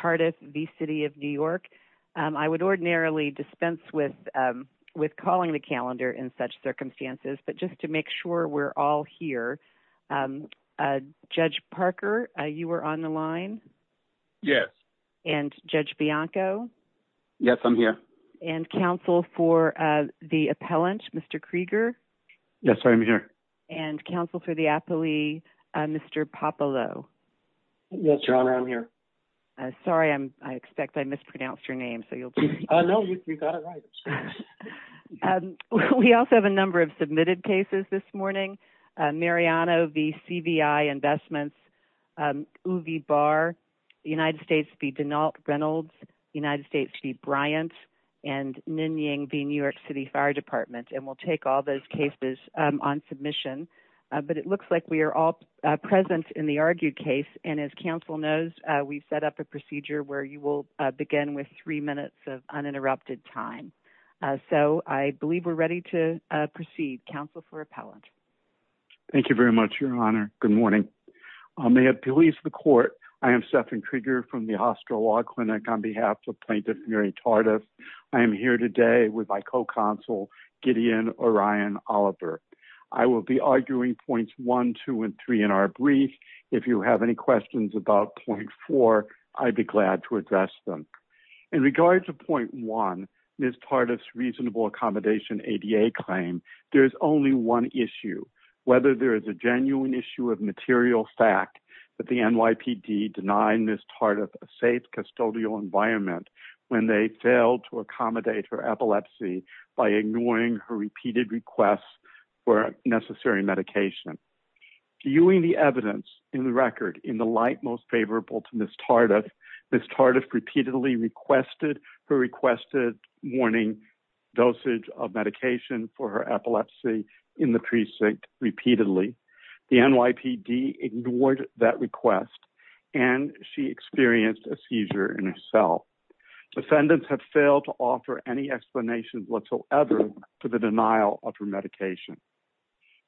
Tardif v. City of New York. I would ordinarily dispense with calling the calendar in such circumstances, but just to make sure we're all here. Judge Parker, you were on the line? Yes. And Judge Bianco? Yes, I'm here. And counsel for the appellant, Mr. Krieger? Yes, I'm here. And counsel for the appellee, Mr. Popolo? Yes, Your Honor, I'm here. Sorry, I expect I mispronounced your name, so you'll just... No, you got it right. We also have a number of submitted cases this morning. Mariano v. CVI Investments, Uwe Barr, United States v. Denault Reynolds, United States v. Bryant, and Ninh Nieng v. New York City Fire Department. And we'll take all those cases on submission. But it looks like we have a very good case. And as counsel knows, we've set up a procedure where you will begin with three minutes of uninterrupted time. So I believe we're ready to proceed. Counsel for appellant. Thank you very much, Your Honor. Good morning. May it please the court, I am Stephen Krieger from the Hostel Law Clinic on behalf of Plaintiff Mary Tardif. I am here today with my co-counsel, Gideon Orion Oliver. I will be arguing points one, two, and three in our brief. If you have any questions about point four, I'd be glad to address them. In regards to point one, Ms. Tardif's reasonable accommodation ADA claim, there's only one issue, whether there is a genuine issue of material fact that the NYPD denied Ms. Tardif a safe custodial environment when they failed to accommodate her epilepsy by ignoring her repeated requests for necessary medication. Viewing the evidence in the record in the light most favorable to Ms. Tardif, Ms. Tardif repeatedly requested her requested warning dosage of medication for her epilepsy in the precinct repeatedly. The NYPD ignored that request. And she experienced a seizure in her cell. Defendants have failed to offer any explanation whatsoever to the denial of her medication.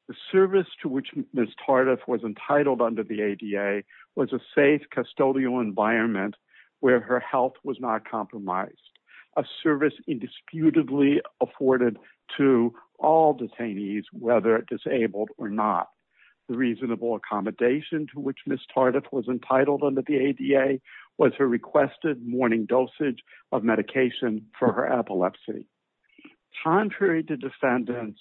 The service to which Ms. Tardif was entitled under the ADA was a safe custodial environment where her health was not compromised. A service indisputably afforded to all detainees, whether disabled or not. The reasonable accommodation to which Ms. Tardif was entitled under the ADA was her requested warning dosage of medication for her epilepsy. Contrary to defendants'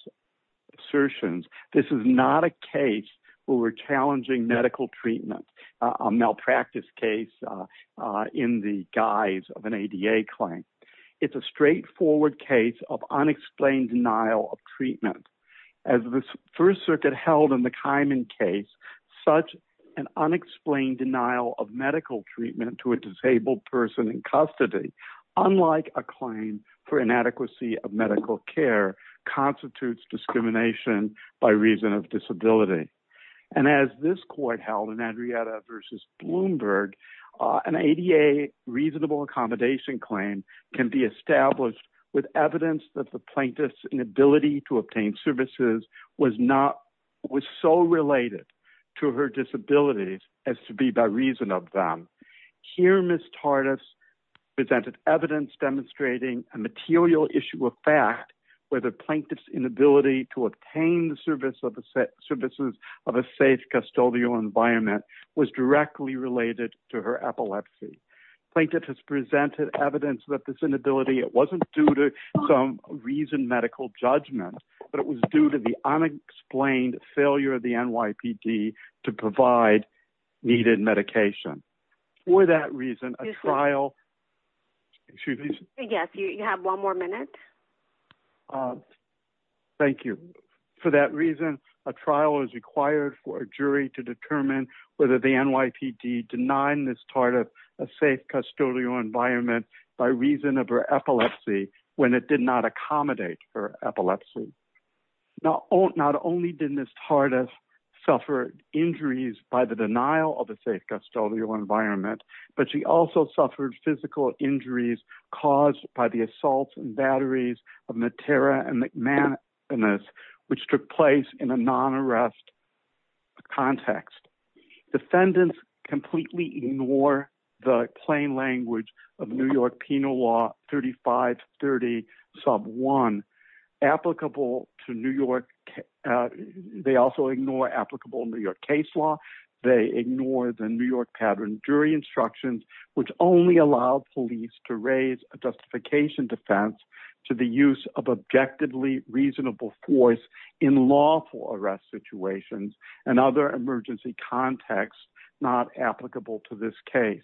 assertions, this is not a case where we're challenging medical treatment, a malpractice case in the guise of an ADA claim. It's a straightforward case of unexplained denial of treatment. As the First Circuit held in the Kimen case, such an unexplained denial of medical treatment to a disabled person in custody, unlike a claim for inadequacy of medical care, constitutes discrimination by reason of disability. And as this court held in Adriana v. Bloomberg, an ADA reasonable accommodation claim can be established with evidence that the plaintiff's inability to obtain services was so related to her disabilities as to be a reason of them. Here Ms. Tardif presented evidence demonstrating a material issue of fact where the plaintiff's inability to obtain the services of a safe custodial environment was directly related to her epilepsy. Plaintiff has presented evidence that this inability, it wasn't due to some reasoned medical judgment, but it was due to the unexplained failure of the medication. For that reason, a trial... Excuse me. Yes, you have one more minute. Thank you. For that reason, a trial was required for a jury to determine whether the NYPD denied Ms. Tardif a safe custodial environment by reason of her epilepsy when it did not accommodate her environment, but she also suffered physical injuries caused by the assaults and batteries of Matera and McManus, which took place in a non-arrest context. Defendants completely ignore the plain language of New York penal law 3530 sub 1. Applicable to New York... They also ignore applicable New York case law. They ignore the New York pattern jury instructions, which only allow police to raise a justification defense to the use of objectively reasonable force in lawful arrest situations and other emergency contexts not applicable to this case.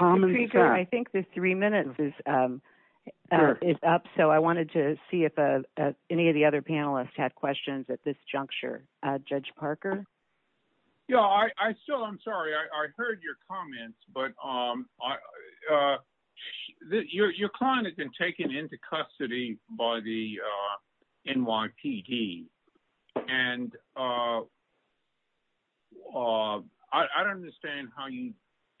I think the three minutes is up, so I wanted to see if any of the other panelists had questions at this juncture. Judge Parker? Yeah, I still... I'm sorry. I heard your comments, but your client has been taken into custody by the NYPD, and I don't understand how you considered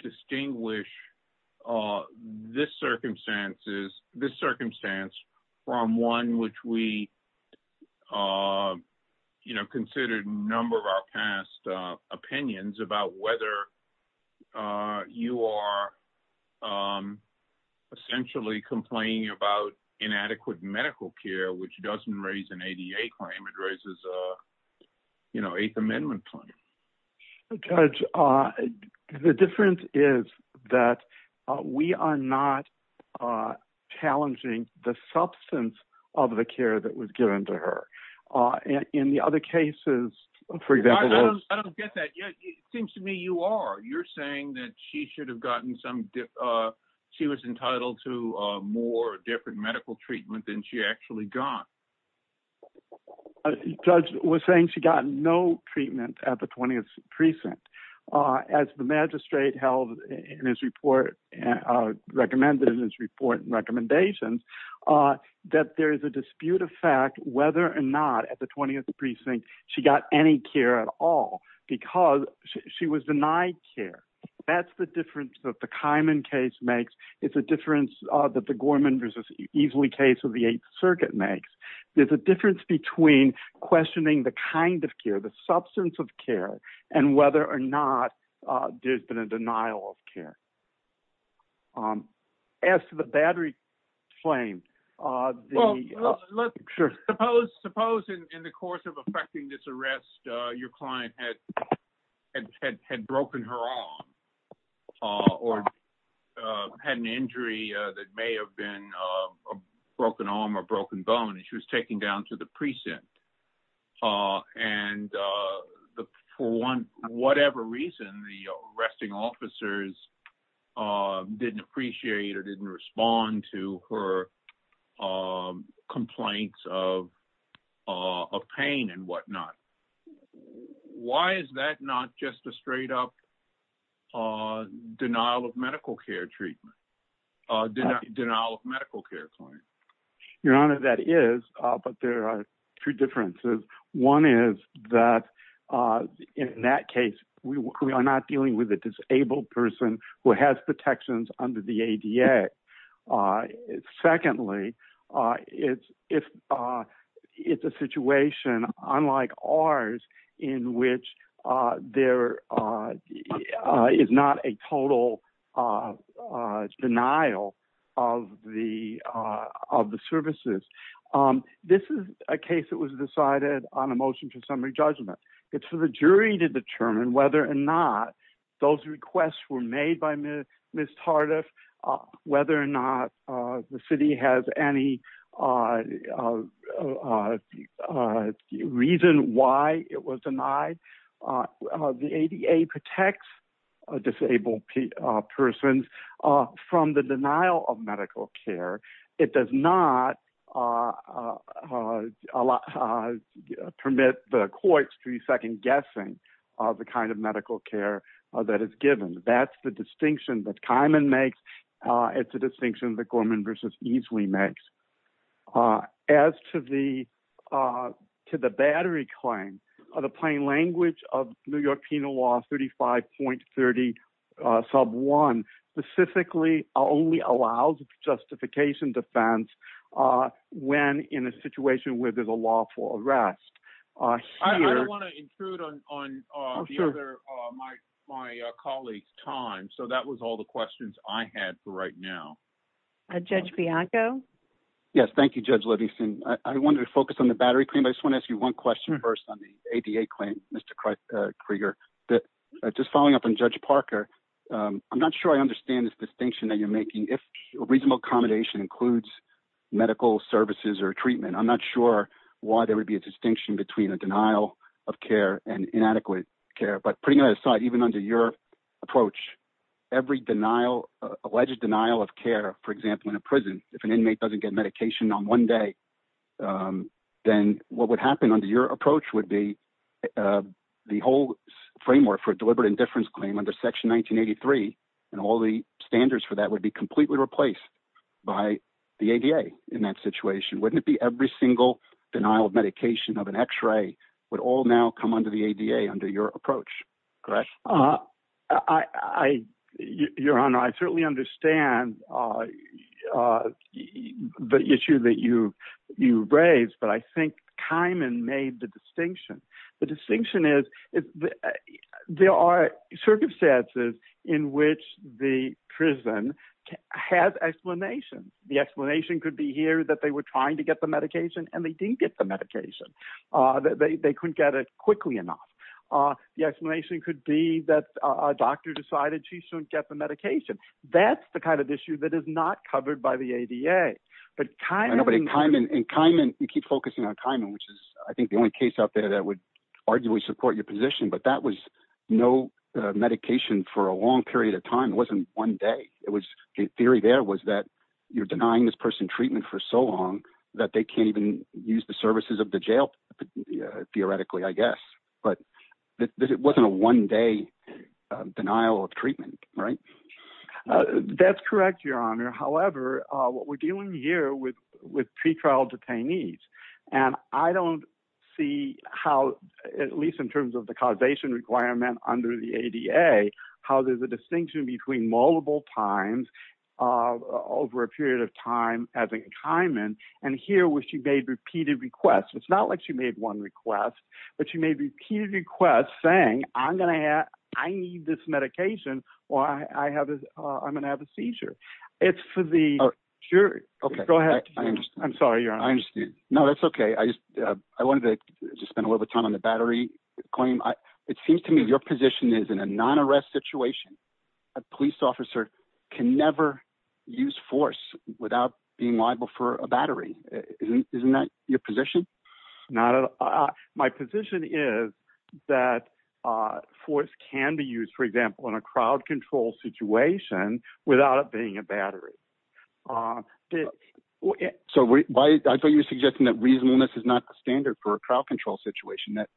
a number of our past opinions about whether you are essentially complaining about inadequate medical care, which doesn't raise an ADA claim. It raises an Eighth Amendment claim. Judge, the difference is that we are not challenging the substance of the care that in the other cases, for example... I don't get that. It seems to me you are. You're saying that she should have gotten some... She was entitled to more different medical treatment than she actually got. Judge was saying she got no treatment at the 20th precinct. As the magistrate recommended in his report and recommendations, that there is a dispute of fact whether or not at the 20th precinct, she got any care at all, because she was denied care. That's the difference that the Kyman case makes. It's a difference that the Gorman v. Easley case of the Eighth Circuit makes. There's a difference between questioning the kind of care, the substance of care, and whether or not there's been a denial of care. As to the battery claim... Suppose in the course of affecting this arrest, your client had broken her arm or had an injury that may have been a broken arm or the arresting officers didn't appreciate or didn't respond to her complaints of pain and whatnot. Why is that not just a straight-up denial of medical care claim? Your Honor, that is, but there are two differences. One is that in that case, we are not dealing with a disabled person who has protections under the ADA. Secondly, it's a situation unlike ours in which there is not a total denial of the services. This is a case that was decided on a motion to summary judgment. It's for the jury to determine whether or not those requests were made by Ms. Tardif, whether or not the city has any reason why it was denied. The ADA protects disabled persons from the denial of medical care. It does not permit the courts to be second-guessing the kind of medical care that is given. That's the distinction that Kimon makes. It's a distinction that Gorman v. Easley makes. As to the battery claim, the plain language of New York Penal Law 35.30 sub 1 specifically only allows justification defense when in a situation where there's a lawful arrest. I don't want to intrude on my colleague's time, so that was all the questions I had for right now. Judge Bianco? Yes, thank you, Judge Levinson. I wanted to focus on the battery claim, but I just want to ask you one question first on the ADA claim, Mr. Krieger. Just following up on Judge Parker, I'm not sure I understand this distinction that you're making. If reasonable accommodation includes medical services or treatment, I'm not sure why there would be a distinction between a denial of care and inadequate care. But putting that aside, even under your approach, every alleged denial of care, for example, in a prison, if an inmate doesn't get medication on one day, then what would happen under your approach would be the whole framework for deliberate indifference claim under Section 1983, and all the standards for that would be completely replaced by the ADA in that situation. Wouldn't it be every single denial of medication of an x-ray would all now come under the ADA under your approach? Correct? Your Honor, I certainly understand the issue that you raised, but I made the distinction. The distinction is there are circumstances in which the prison has explanation. The explanation could be here that they were trying to get the medication and they didn't get the medication. They couldn't get it quickly enough. The explanation could be that a doctor decided she shouldn't get the medication. That's the kind of issue that is not covered by ADA. You keep focusing on Kimen, which is I think the only case out there that would arguably support your position, but that was no medication for a long period of time. It wasn't one day. The theory there was that you're denying this person treatment for so long that they can't even use the services of the jail, theoretically, I guess. But it wasn't a one day denial of what we're dealing here with pre-trial detainees. I don't see how, at least in terms of the causation requirement under the ADA, how there's a distinction between multiple times over a period of time as in Kimen and here where she made repeated requests. It's not like she made one request, but she made repeated requests saying, I need this medication or I'm going to have a surgery. Go ahead. I'm sorry, your honor. I understand. No, that's okay. I wanted to just spend a little bit of time on the battery claim. It seems to me your position is in a non-arrest situation, a police officer can never use force without being liable for a battery. Isn't that your position? My position is that force can be used, for example, in a crowd control situation without it being a battery. I thought you were suggesting that reasonableness is not the standard for a crowd control situation, that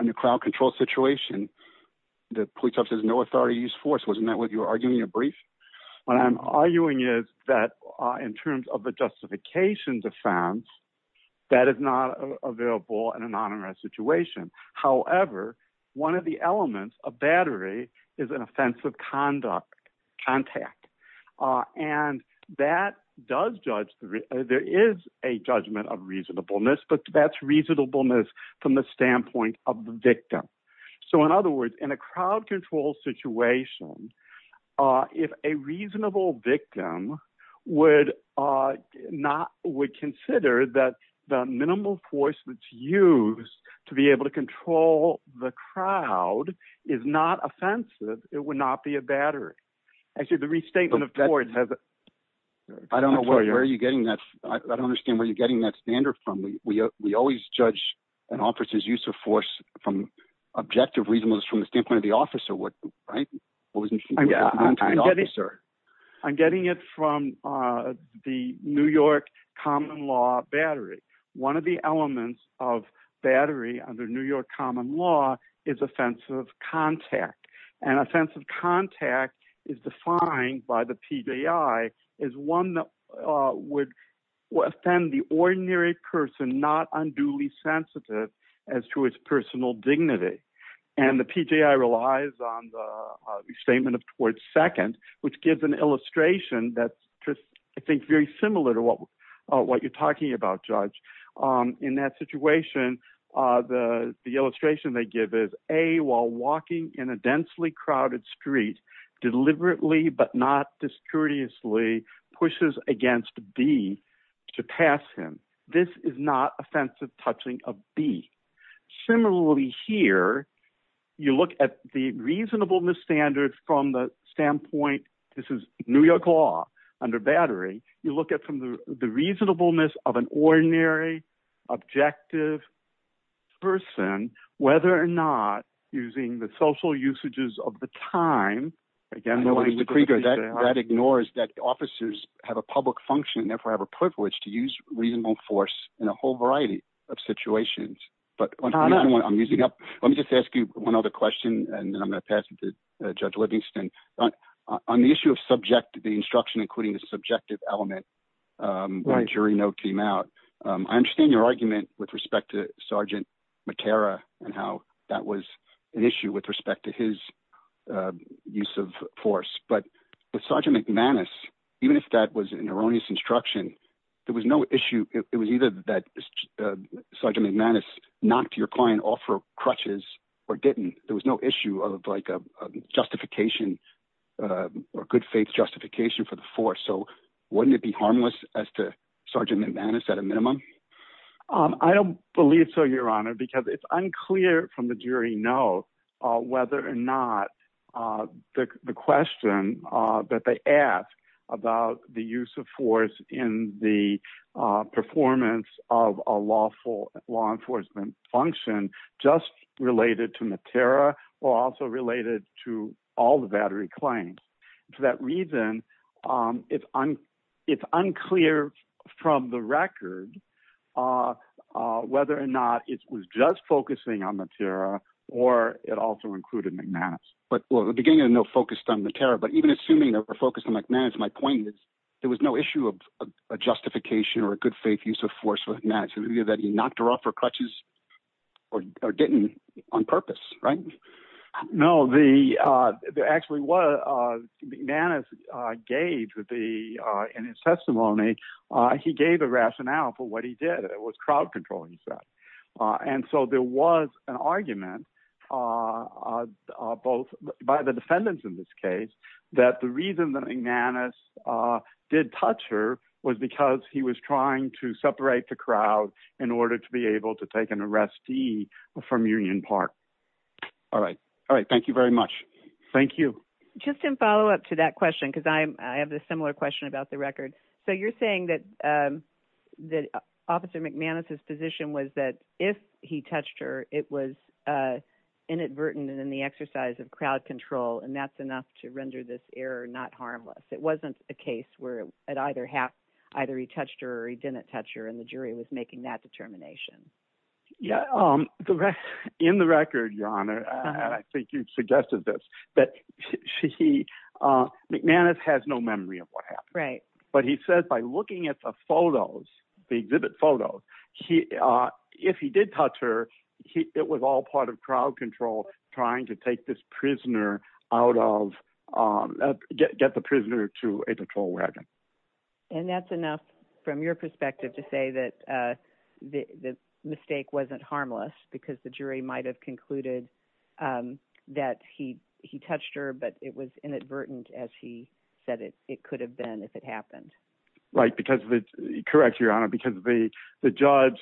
in a crowd control situation, the police officer has no authority to use force. Wasn't that what you were arguing in your brief? What I'm arguing is that in terms of the justification defense, that is not available in a non-arrest situation. However, one of the elements of battery is an offensive contact. There is a judgment of reasonableness, but that's reasonableness from the standpoint of the victim. In other words, in a crowd control situation, if a reasonable victim would consider that the minimal force used to be able to control the crowd is not offensive, it would not be a battery. Actually, the restatement of tort has... I don't know where you're getting that. I don't understand where you're getting that standard from. We always judge an officer's use of force from objective reasonableness from the standpoint of the officer, right? I'm getting it from the New York common law battery. One of the elements of battery under New York common law is offensive contact. Offensive contact is defined by the PJI as one would offend the ordinary person not unduly sensitive as to its personal dignity. The PJI on the statement of tort second, which gives an illustration that's just, I think, very similar to what you're talking about, Judge. In that situation, the illustration they give is, A, while walking in a densely crowded street, deliberately, but not discourteously, pushes against B to pass him. This is not offensive touching of B. Similarly here, you look at the reasonableness standards from the standpoint, this is New York law under battery, you look at from the reasonableness of an ordinary, objective person, whether or not using the social usages of the time... That ignores that officers have a public function, therefore have a privilege to use reasonable force in a whole variety of situations. But let me just ask you one other question, and then I'm going to pass it to Judge Livingston. On the issue of subject, the instruction, including the subjective element, my jury note came out. I understand your argument with respect to Sergeant Matera and how that was an issue with respect to his use of force. But with Sergeant McManus, even if that was an erroneous instruction, there was no issue. It was either that Sergeant McManus knocked your client off for crutches or didn't. There was no issue of like a justification or good faith justification for the force. So wouldn't it be harmless as to Sergeant McManus at a minimum? I don't believe so, Your Honor, because it's that they ask about the use of force in the performance of a law enforcement function, just related to Matera or also related to all the battery claims. For that reason, it's unclear from the record whether or not it was just focusing on Matera or it also included McManus. Well, the beginning of the note focused on Matera, but even assuming they were focused on McManus, my point is there was no issue of a justification or a good faith use of force with McManus. It was either that he knocked her off for crutches or didn't on purpose, right? No. Actually, what McManus gave in his testimony, he gave a rationale for what he did. It was an argument both by the defendants in this case that the reason that McManus did touch her was because he was trying to separate the crowd in order to be able to take an arrestee from Union Park. All right. All right. Thank you very much. Thank you. Just in follow-up to that question, because I have a similar question about the record. So you're saying that Officer McManus's position was that if he touched her, it was inadvertent in the exercise of crowd control, and that's enough to render this error not harmless. It wasn't a case where it either he touched her or he didn't touch her, and the jury was making that determination. Yeah. In the record, Your Honor, and I think you've suggested this, that McManus has no memory of what happened. Right. He said by looking at the photos, the exhibit photos, if he did touch her, it was all part of crowd control trying to take this prisoner out of, get the prisoner to a patrol wagon. And that's enough from your perspective to say that the mistake wasn't harmless because the jury might have concluded that he touched her, but it was inadvertent as he said it could have been if it happened. Right. Correct, Your Honor, because the judge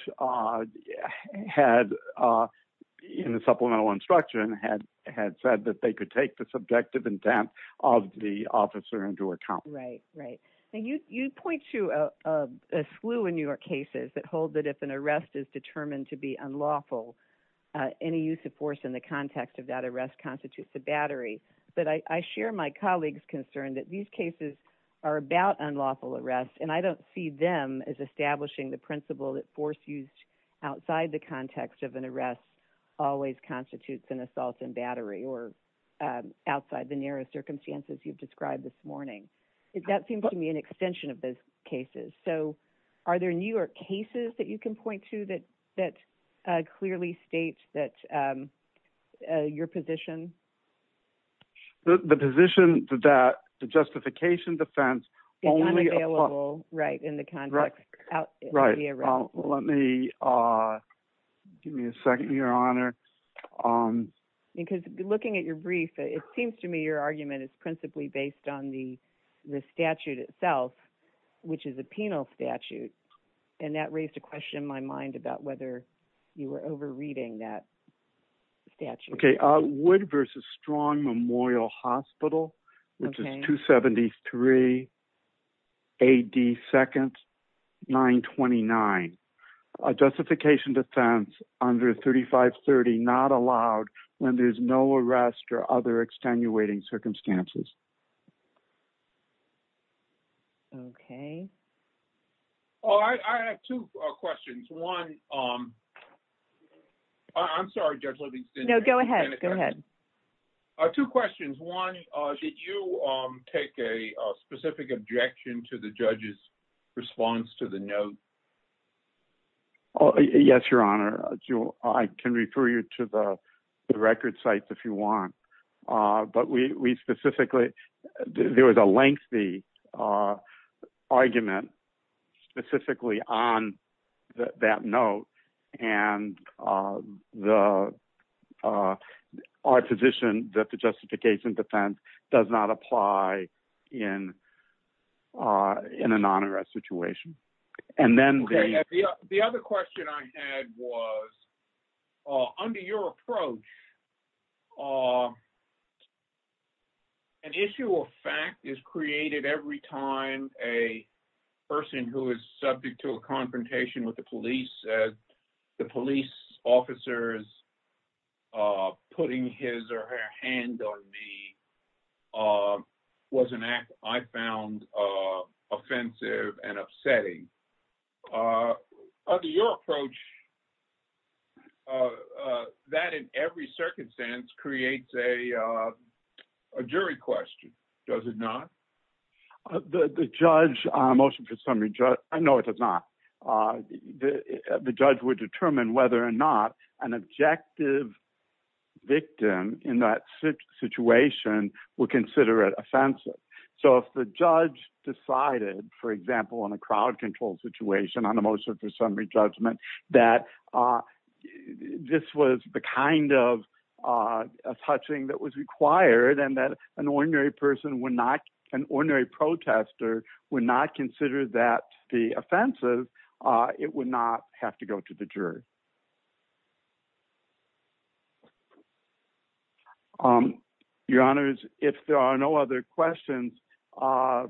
in the supplemental instruction had said that they could take the subjective intent of the officer into account. Right. Right. Now, you point to a slew in your cases that hold that if an arrest is determined to be unlawful, any use of force in the context of that arrest constitutes a battery. But I share my colleague's concern that these cases are about unlawful arrests, and I don't see them as establishing the principle that force used outside the context of an arrest always constitutes an assault and battery or outside the narrow circumstances you've described this morning. That seems to me an extension of those cases. So are there newer cases that you can point to that clearly states that your position? The position that the justification defense is unavailable in the context of the arrest. Right. Let me give me a second, Your Honor. Because looking at your brief, it seems to me your argument is principally based on the statute itself, which is a penal statute. And that raised a question in my mind about whether you were overreading that statute. Okay. Wood versus Strong Memorial Hospital, which is 273 AD 2nd 929. A justification defense under 3530 not allowed when there's no arrest or other extenuating circumstances. Okay. Oh, I have two questions. One, I'm sorry, Judge Livingston. No, go ahead. Go ahead. Two questions. One, did you take a specific objection to the judge's response to the note? Yes, Your Honor. I can refer you to the record sites if you want. But we specifically there was a lengthy argument specifically on that note. And our position that the justification defense does not apply in a non-arrest situation. The other question I had was, under your approach, an issue of fact is created every time a person who is subject to a confrontation with the police says the police officers putting his or her hand on me was an act I found offensive and upsetting. Under your approach, that in every circumstance creates a jury question, does it not? The judge motion for summary, I know it does not. The judge would determine whether or not an objective victim in that situation would consider it offensive. So if the judge decided, for example, on a crowd control situation on the motion for summary judgment, that this was the kind of touching that was required and that an ordinary person would not, an ordinary protester would not consider that the offensive, it would not have to go to the jury. Your honors, if there are no other questions, for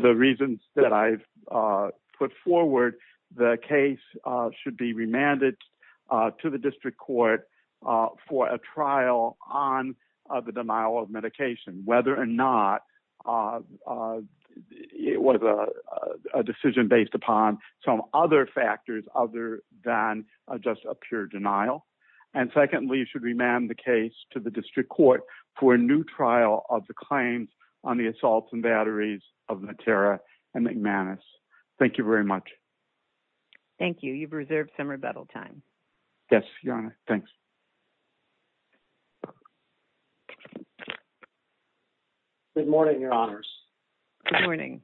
the reasons that I've put forward, the case should be remanded to the district court for a trial on the denial of medication, whether or not it was a decision based upon some other factors other than just a pure denial. And secondly, it should remand the case to the district court for a new trial of the claims on the assaults and batteries of Matera and McManus. Thank you very much. Thank you. You've reserved some rebuttal time. Yes, your honor. Thanks. Good morning, your honors. Good morning.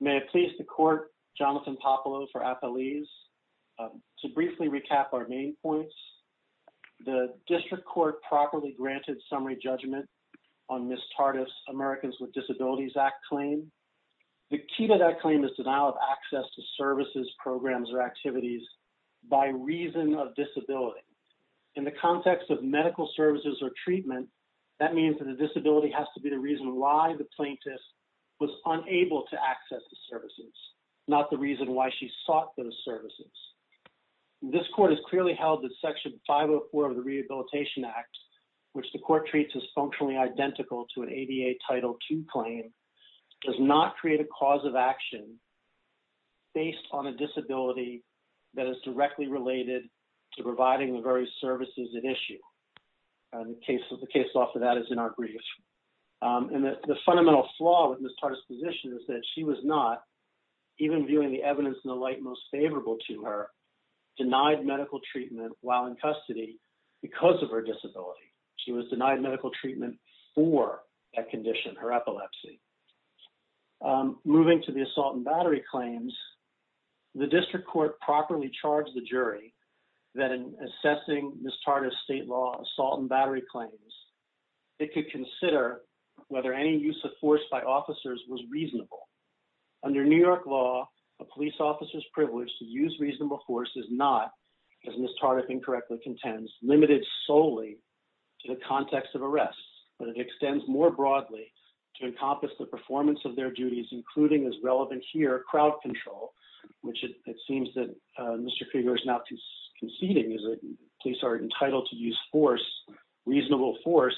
May it please the court, Jonathan Popolo for apologies to briefly recap our main points. The district court properly granted summary judgment on Ms. Tardif's Americans with Disabilities Act claim. The key to that claim is denial of access to services, programs, or activities by reason of disability. In the context of medical services or treatment, that means that the disability has to be the reason why the plaintiff was unable to access the services, not the reason why she sought those services. This court has clearly held that section 504 of the Rehabilitation Act, which the court treats as functionally identical to an ADA Title II claim, does not create a cause of action based on a disability that is directly related to providing the various services at issue. And the case off of that is in our brief. And the fundamental flaw with Ms. Tardif's position is that she was not, even viewing the evidence in the light most favorable to her, denied medical treatment while in custody because of her disability. She was denied medical treatment for that condition, her epilepsy. Moving to the assault and battery claims, the district court properly charged the jury that in assessing Ms. Tardif's state law assault and battery claims, it could consider whether any use of force by officers was reasonable. Under New York law, a police officer's contends limited solely to the context of arrests, but it extends more broadly to encompass the performance of their duties, including as relevant here, crowd control, which it seems that Mr. Krieger is not conceding is that police are entitled to use force, reasonable force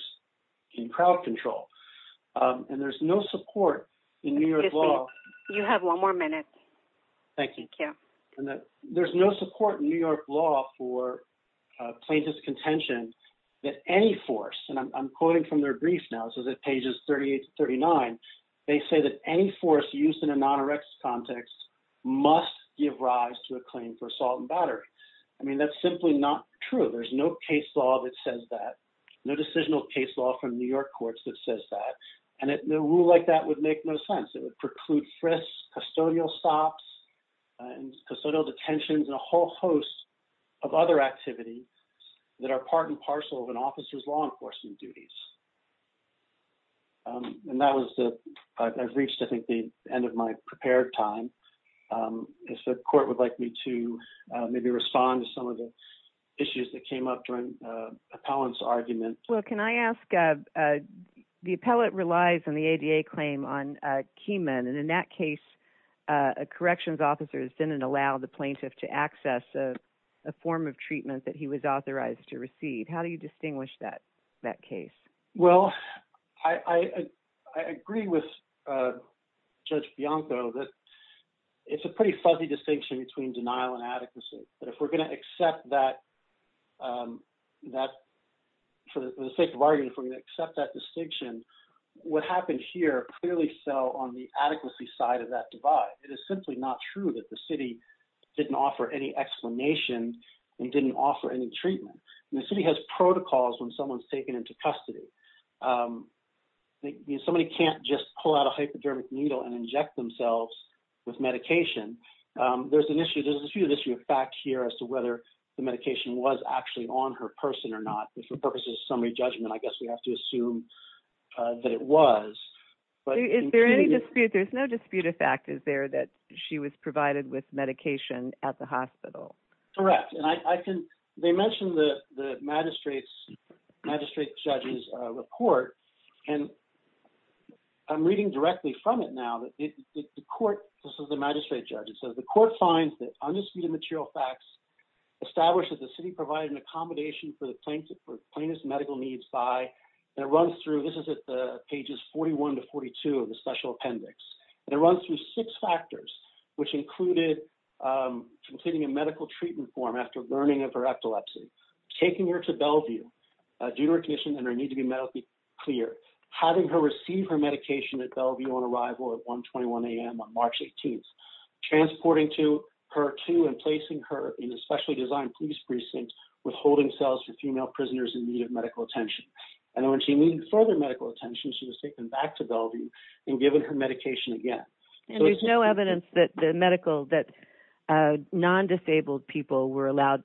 in crowd control. And there's no support in New York law. You have one more minute. Thank you. And that there's no support in New York law for plaintiff's contention that any force, and I'm quoting from their brief now, it says that pages 38 to 39, they say that any force used in a non-arrest context must give rise to a claim for assault and battery. I mean, that's simply not true. There's no case law that says that, no decisional case law from New York courts that says that. And a rule like that would make no sense. It would preclude frisks, custodial stops, custodial detentions, and a whole host of other activities that are part and parcel of an officer's law enforcement duties. And that was the, I've reached, I think, the end of my prepared time. If the court would like me to maybe respond to some of the issues that came up during appellant's argument. Well, can I ask, the appellate relies on the ADA claim on a key man. And in that case, a corrections officers didn't allow the plaintiff to access a form of treatment that he was authorized to receive. How do you distinguish that case? Well, I agree with Judge Bianco that it's a pretty fuzzy distinction between denial and adequacy. But if we're going to accept that, for the sake of argument, if we're going to accept that on the adequacy side of that divide, it is simply not true that the city didn't offer any explanation and didn't offer any treatment. And the city has protocols when someone's taken into custody. Somebody can't just pull out a hypodermic needle and inject themselves with medication. There's an issue, there's a few issues of fact here as to whether the medication was actually on her person or not. And for purposes of summary judgment, I guess we have to assume that it was, but- Is there any dispute, there's no dispute of fact, is there, that she was provided with medication at the hospital? Correct. And they mentioned the magistrate judge's report, and I'm reading directly from it now that the court, this is the magistrate judge, it says, the court finds that undisputed material facts establish that the city provided an accommodation for the plaintiff's medical needs by and it runs through, this is at the pages 41 to 42 of the special appendix, and it runs through six factors, which included completing a medical treatment form after learning of her epilepsy, taking her to Bellevue due to her condition and her need to be medically cleared, having her receive her medication at Bellevue on arrival at 121 AM on March 18th, transporting to her to and placing her in a specially designed police precinct withholding cells for female when she needed further medical attention, she was taken back to Bellevue and given her medication again. And there's no evidence that the medical, that non-disabled people are allowed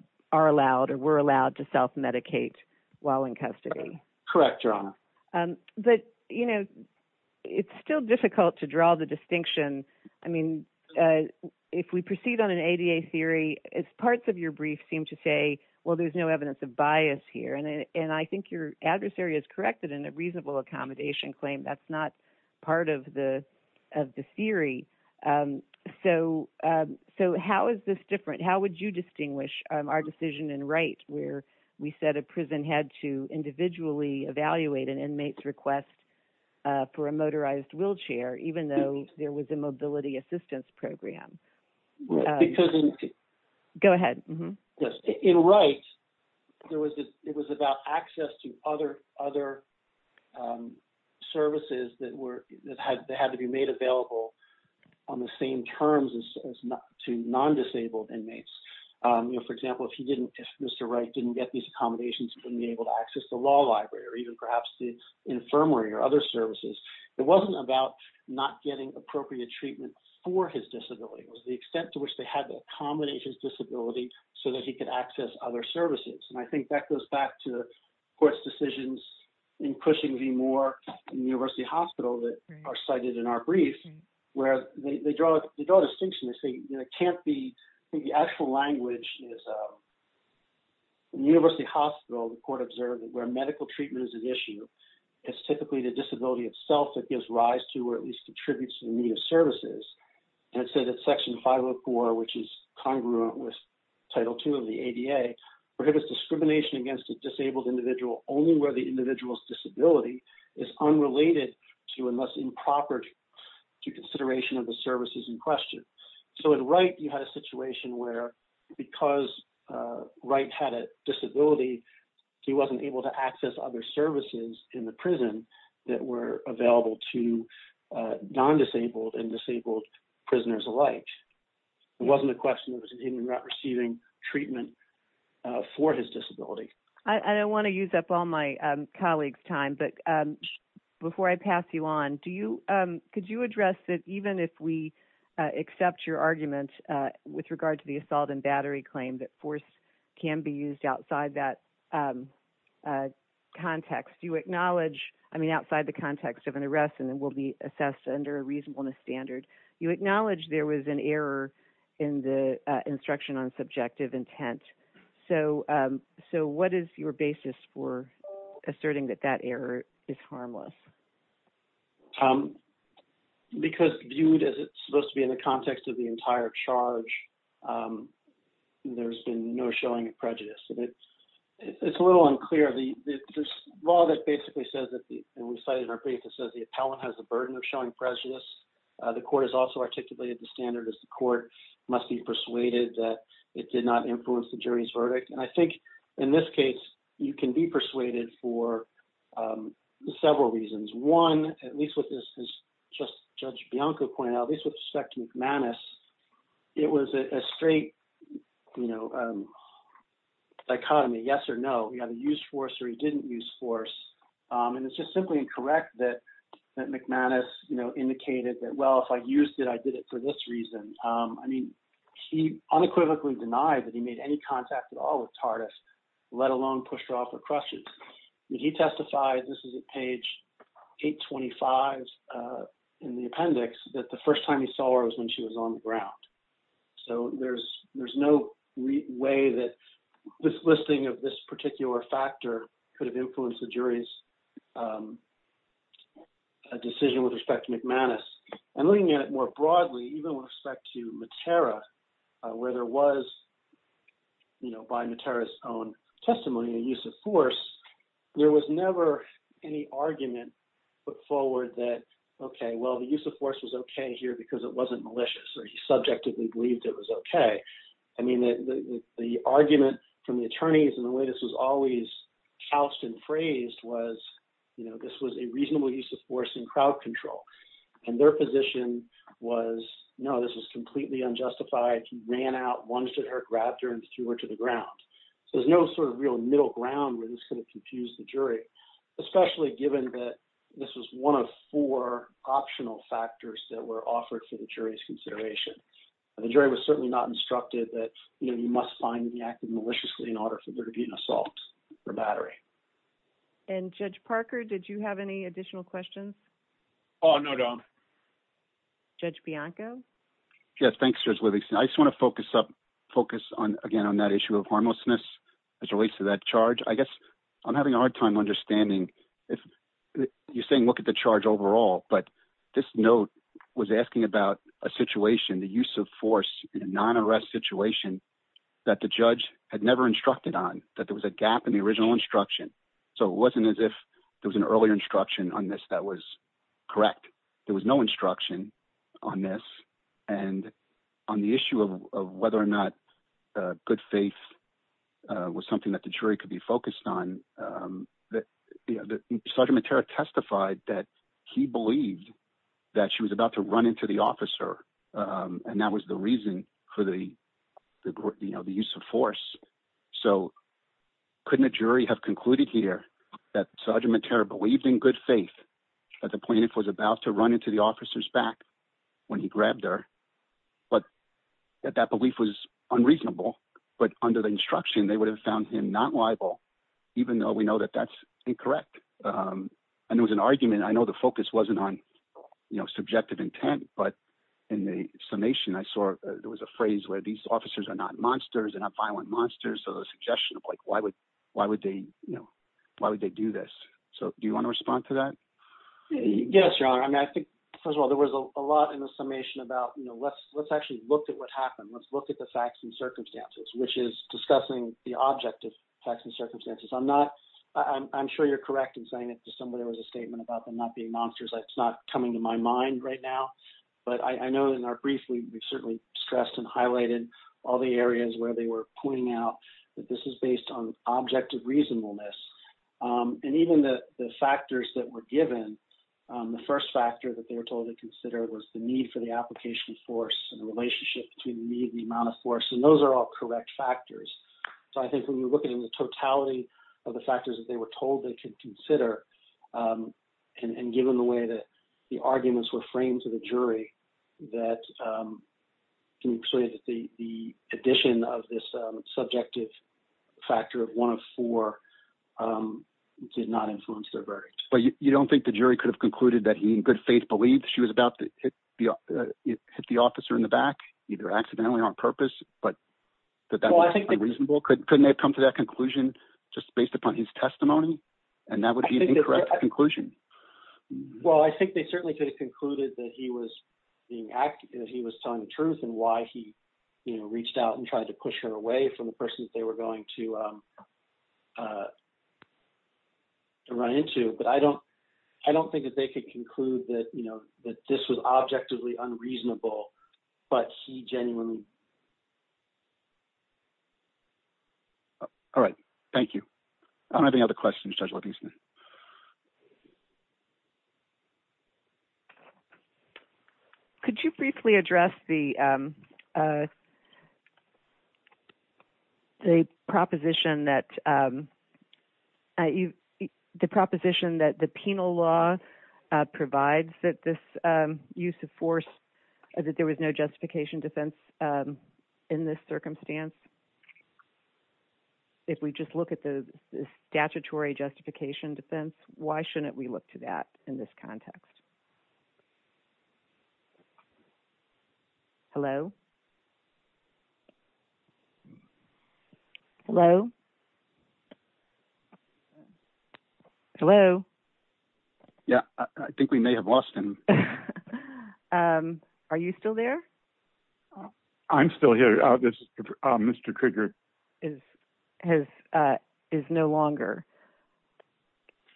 or were allowed to self-medicate while in custody? Correct, Your Honor. But it's still difficult to draw the distinction. I mean, if we proceed on an ADA theory, as parts of your brief seem to say, well, there's no evidence of a reasonable accommodation claim, that's not part of the theory. So how is this different? How would you distinguish our decision in Wright where we said a prison had to individually evaluate an inmate's request for a motorized wheelchair, even though there was a mobility assistance program? Because... Go ahead. In Wright, it was about access to other services that had to be made available on the same terms as to non-disabled inmates. For example, if Mr. Wright didn't get these accommodations, he wouldn't be able to access the law library or even perhaps the infirmary or other services. It wasn't about not getting appropriate treatment for his disability, it was the extent to which they had to accommodate his disability so that he could access other services. And I think that goes back to the court's decisions in Cushing v. Moore in the University Hospital that are cited in our brief, where they draw a distinction. They say it can't be... I think the actual language is... In the University Hospital, the court observed that where medical treatment is an issue, it's typically the disability itself that gives rise to or at the disability of services. And it said that Section 504, which is congruent with Title II of the ADA, prohibits discrimination against a disabled individual only where the individual's disability is unrelated to unless improper to consideration of the services in question. So in Wright, you had a situation where because Wright had a disability, he wasn't able to access other services in the prison that were available to non-disabled and disabled prisoners alike. It wasn't a question of him receiving treatment for his disability. I don't want to use up all my colleagues' time, but before I pass you on, could you address that even if we accept your argument with regard to the assault and battery claim that force can be used outside that context? You acknowledge... I mean, outside the context of an arrest and then will be assessed under a reasonableness standard, you acknowledge there was an error in the instruction on subjective intent. So what is your basis for asserting that that error is harmless? Because viewed as it's supposed to be in the context of the entire charge, there's been no showing of prejudice. It's a little unclear. The law that basically says that, and we cited in our brief, it says the appellant has the burden of showing prejudice. The court has also articulated the standard as the court must be persuaded that it did not influence the jury's verdict. And I think in this case, you can be persuaded for several reasons. One, at least with this, as just Judge Bianco pointed out, at least with respect to McManus, it was a straight dichotomy, yes or no. He either used force or he didn't use force. And it's just simply incorrect that McManus indicated that, well, if I used it, I did it for this reason. I mean, he unequivocally denied that he made any contact at all with Tardif, let alone pushed her off her crutches. He testified, this is at page 825 in the appendix, that the first time he saw her was when she was on the ground. So there's no way that this listing of this particular factor could have influenced the jury's decision with respect to McManus. And looking at it more broadly, even with respect to Matera, where there was, by Matera's own testimony, a use of force, there was never any argument put forward that, OK, well, the use of force was OK here because it wasn't malicious or he subjectively believed it was OK. I mean, the argument from the attorneys and the way this was always couched and phrased was this was a reasonable use of force in crowd control. And their position was, no, this was completely unjustified. He ran out, lunged at her, grabbed her, and threw her to the ground. So there's no sort of real middle ground where this could have confused the jury, especially given that this was one of four optional factors that were offered for the jury's consideration. The jury was certainly not instructed that you must find the act of maliciously in order for there to be an assault or battery. And Judge Parker, did you have any additional questions? Oh, no, don't. Judge Bianco? Yes, thanks, Judge Livingston. I just want to focus on, again, on that issue of harmlessness as it relates to that charge. I guess I'm having a hard time understanding if you're saying look at the charge overall. But this note was asking about a situation, the use of force in a non-arrest situation that the judge had never instructed on, that there was a gap in the original instruction. So it wasn't as if there was an earlier instruction on this that was correct. There was no instruction on this. And on the issue of whether or not good faith was something that the jury could be focused on, Sergeant Matera testified that he believed that she was about to run into the officer. And that was the reason for the use of force. So couldn't a jury have concluded here that Sergeant Matera believed in good faith at the point it was about to run into the officer's back when he grabbed her? But that belief was unreasonable. But under the instruction, they would have found him not liable, even though we know that that's incorrect. And there was an argument. I know the focus wasn't on subjective intent. But in the summation, I saw there was a phrase where these officers are not monsters, they're not violent monsters. So the suggestion of why would they do this? So do you want to respond to that? Yes, Your Honor. First of all, there was a lot in the summation about, let's actually look at what happened. Let's look at the facts and circumstances, which is discussing the object of facts and circumstances. I'm sure you're correct in saying that there was a statement about them not being monsters. It's not coming to my mind right now. But I know in our brief, we certainly stressed and highlighted all the areas where they were pointing out that this is based on objective reasonableness. And even the factors that were given, the first factor that they were told to consider was the need for the application of force and the relationship between the need and the amount of force. And those are all correct factors. So I think when you look at the totality of the factors that they were told they could consider, and given the way that the arguments were framed to the jury, the addition of this subjective factor of one of four did not influence their verdict. But you don't think the jury could have concluded that he, in good faith, believed she was about to hit the officer in the back, either accidentally or on purpose, but that was unreasonable? Couldn't they have come to that conclusion just based upon his testimony? And that would be an that he was telling the truth and why he reached out and tried to push her away from the person that they were going to run into. But I don't think that they could conclude that this was objectively unreasonable, but he genuinely... All right. Thank you. I don't have any other questions, Judge Lipkinson. Could you briefly address the proposition that the penal law provides that this use of force, that there was no justification defense in this circumstance? If we just look at the statutory justification defense, why shouldn't we look to that in this context? Hello? Hello? Hello? Yeah, I think we may have lost him. Are you still there? I'm still here. This is Mr. Krieger. Is no longer.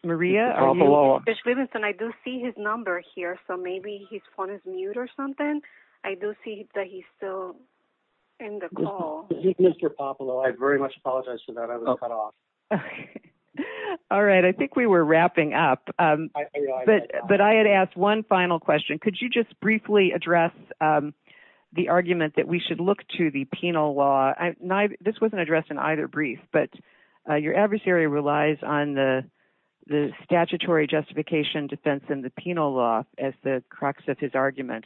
Maria? Mr. Popolo. Judge Lipkinson, I do see his number here, so maybe his phone is mute or something. I do see that he's still in the call. Mr. Popolo, I very much apologize for that. I was cut off. All right. I think we were wrapping up, but I had asked one final question. Could you just the argument that we should look to the penal law... This wasn't addressed in either brief, but your adversary relies on the statutory justification defense in the penal law as the crux of his argument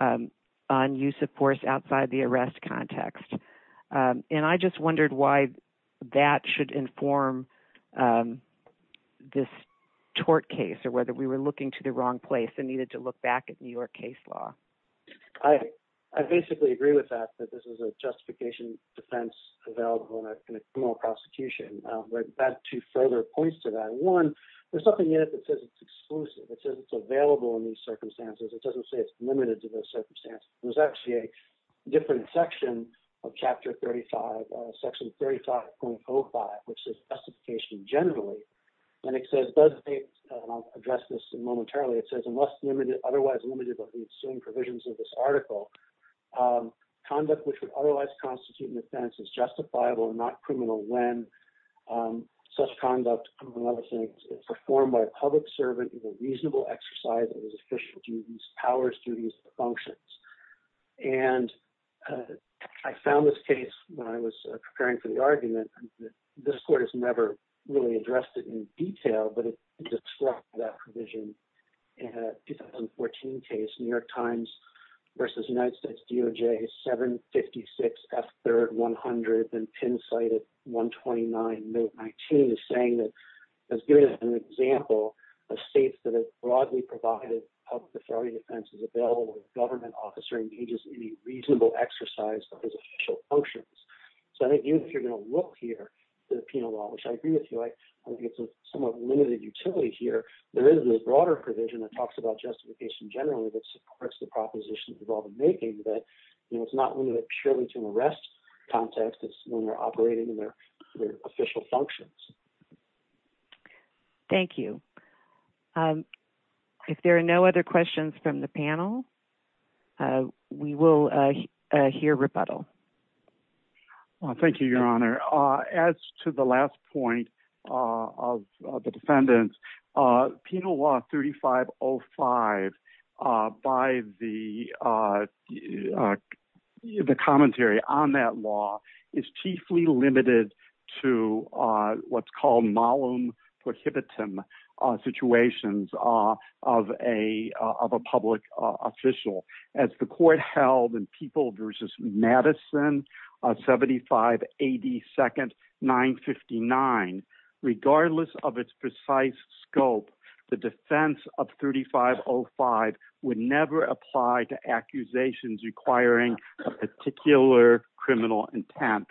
on use of force outside the arrest context. I just wondered why that should inform this tort case or whether we were looking to the wrong place and needed to look back at your case law. I basically agree with that, that this is a justification defense available in a criminal prosecution, but that too further points to that. One, there's something in it that says it's exclusive. It says it's available in these circumstances. It doesn't say it's limited to those circumstances. There's actually a different section of Chapter 35, Section 35.05, which says justification generally, and it says... I'll address this momentarily. It says, otherwise limited by the assuming provisions of this article, conduct which would otherwise constitute an offense is justifiable and not criminal when such conduct among other things is performed by a public servant in a reasonable exercise that is official to these powers, duties, and functions. I found this case when I was preparing for the argument. This court has never really addressed it in detail, but it disrupts that 2014 case, New York Times versus United States DOJ, 756 F3rd 100, and Penn site at 129, note 19, is saying that it's giving an example of states that have broadly provided public authority defenses available when a government officer engages in any reasonable exercise of his official functions. I think even if you're going to look here at the penal law, which I agree with here, there is a broader provision that talks about justification generally that supports the propositions involved in making that it's not limited purely to an arrest context. It's when they're operating in their official functions. Thank you. If there are no other questions from the panel, we will hear rebuttal. Thank you, Your Honor. As to the last point of the defendant, penal law 3505, by the commentary on that law, is chiefly limited to what's called malum prohibitum situations of a public official. As the court held in People versus Madison, 75 AD second 959, regardless of its precise scope, the defense of 3505 would never apply to accusations requiring a particular criminal intent.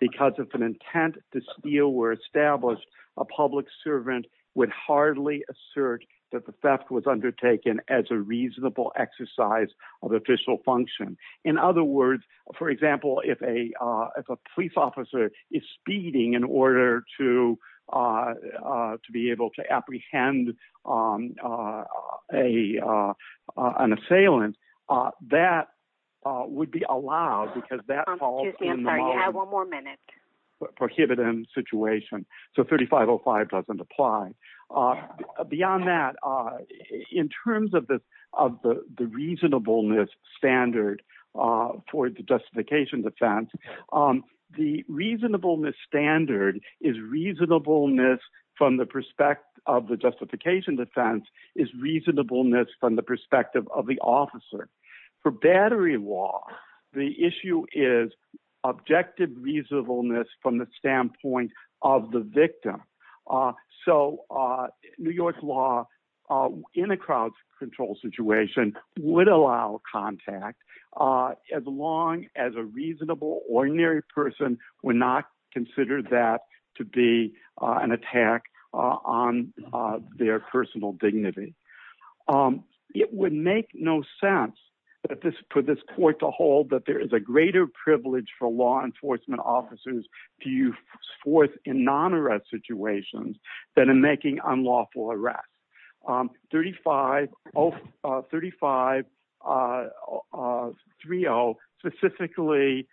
Because if an intent to steal were established, a public servant would hardly assert that the theft was undertaken as a reasonable exercise of official function. In other words, for example, if a police officer is speeding in order to be able to apprehend an assailant, that would be allowed because that falls in the law. I'm sorry, you have one more minute. Malum prohibitum situation. So 3505 doesn't apply. Beyond that, in terms of the reasonableness standard for the justification defense, the reasonableness standard is reasonableness from the perspective of the justification defense is reasonableness from the perspective of the standpoint of the victim. So New York law in a crowd control situation would allow contact as long as a reasonable ordinary person would not consider that to be an attack on their personal dignity. It would make no sense for this court to hold that there is a greater privilege for law enforcement officers to use force in non-arrest situations than in making unlawful arrests. 3530 specifically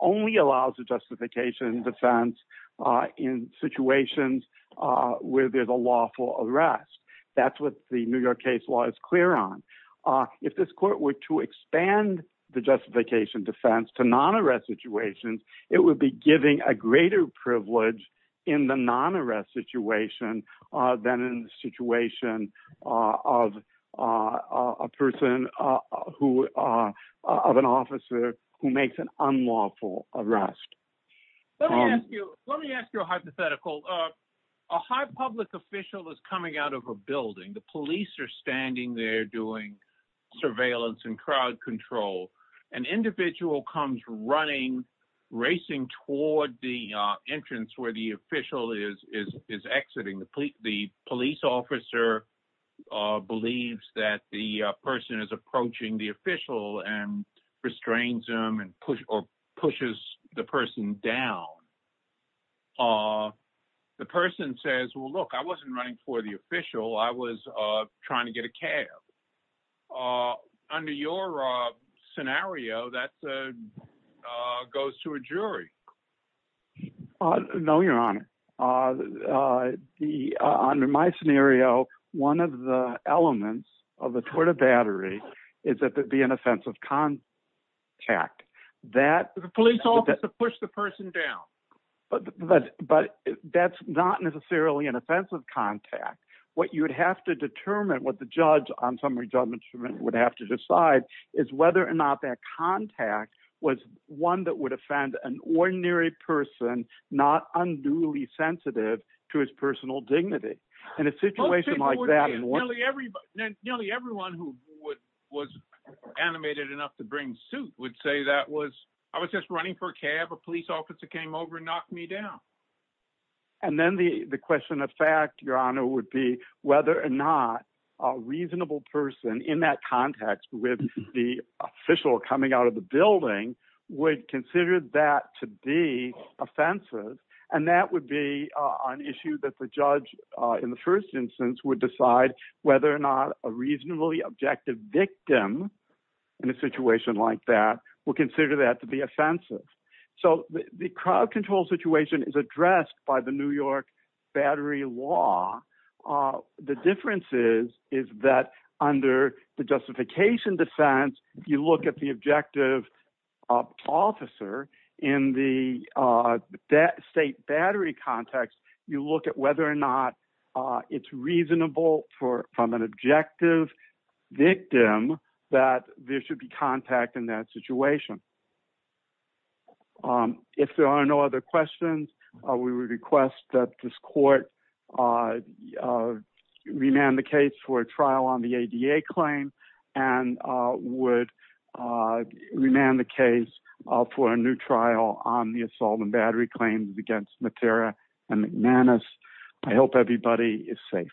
only allows a justification defense in situations where there's a lawful arrest. That's what the New York case law is clear on. If this court were to expand the justification defense to non-arrest situations, it would be giving a greater privilege in the non-arrest situation than in the situation of an officer who makes an unlawful arrest. Let me ask you a hypothetical. A high public official is coming out of a building. The comes running, racing toward the entrance where the official is exiting. The police officer believes that the person is approaching the official and restrains him or pushes the person down. The person says, well, look, I wasn't running for the official. I was trying to get a cab. Under your scenario, that goes to a jury. No, your honor. Under my scenario, one of the elements of the tort of battery is that there'd be an offensive contact. The police officer pushed the person down. But that's not necessarily an offensive contact. What you'd have to determine, what the judge on summary judgment would have to decide, is whether or not that contact was one that would offend an ordinary person, not unduly sensitive to his personal dignity. In a situation like that, nearly everyone who was animated enough to bring suit would say, I was just running for a cab. A police officer came over and knocked me down. And then the question of fact, your honor, would be whether or not a reasonable person in that context with the official coming out of the building would consider that to be offensive. And that would be an issue that the judge in the first instance would decide whether or not a reasonably objective victim in a situation like that would consider that to be offensive. The crowd control situation is addressed by the New York battery law. The difference is that under the justification defense, if you look at the objective officer in the state battery context, you look at whether or not it's reasonable from an objective victim that there should be contact in that situation. If there are no other questions, we would request that this court remand the case for a trial on the ADA claim and would remand the case for a new trial on the assault and battery claims against Matera and McManus. I hope everybody is safe.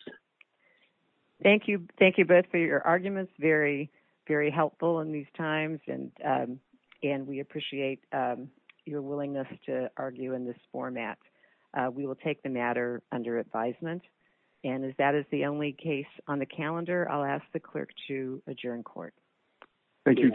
Thank you. Thank you both for your arguments. Very, very helpful in these times. And, and we appreciate your willingness to argue in this format. We will take the matter under advisement. And is that is the only case on the calendar. I'll ask the clerk to adjourn court. Thank you.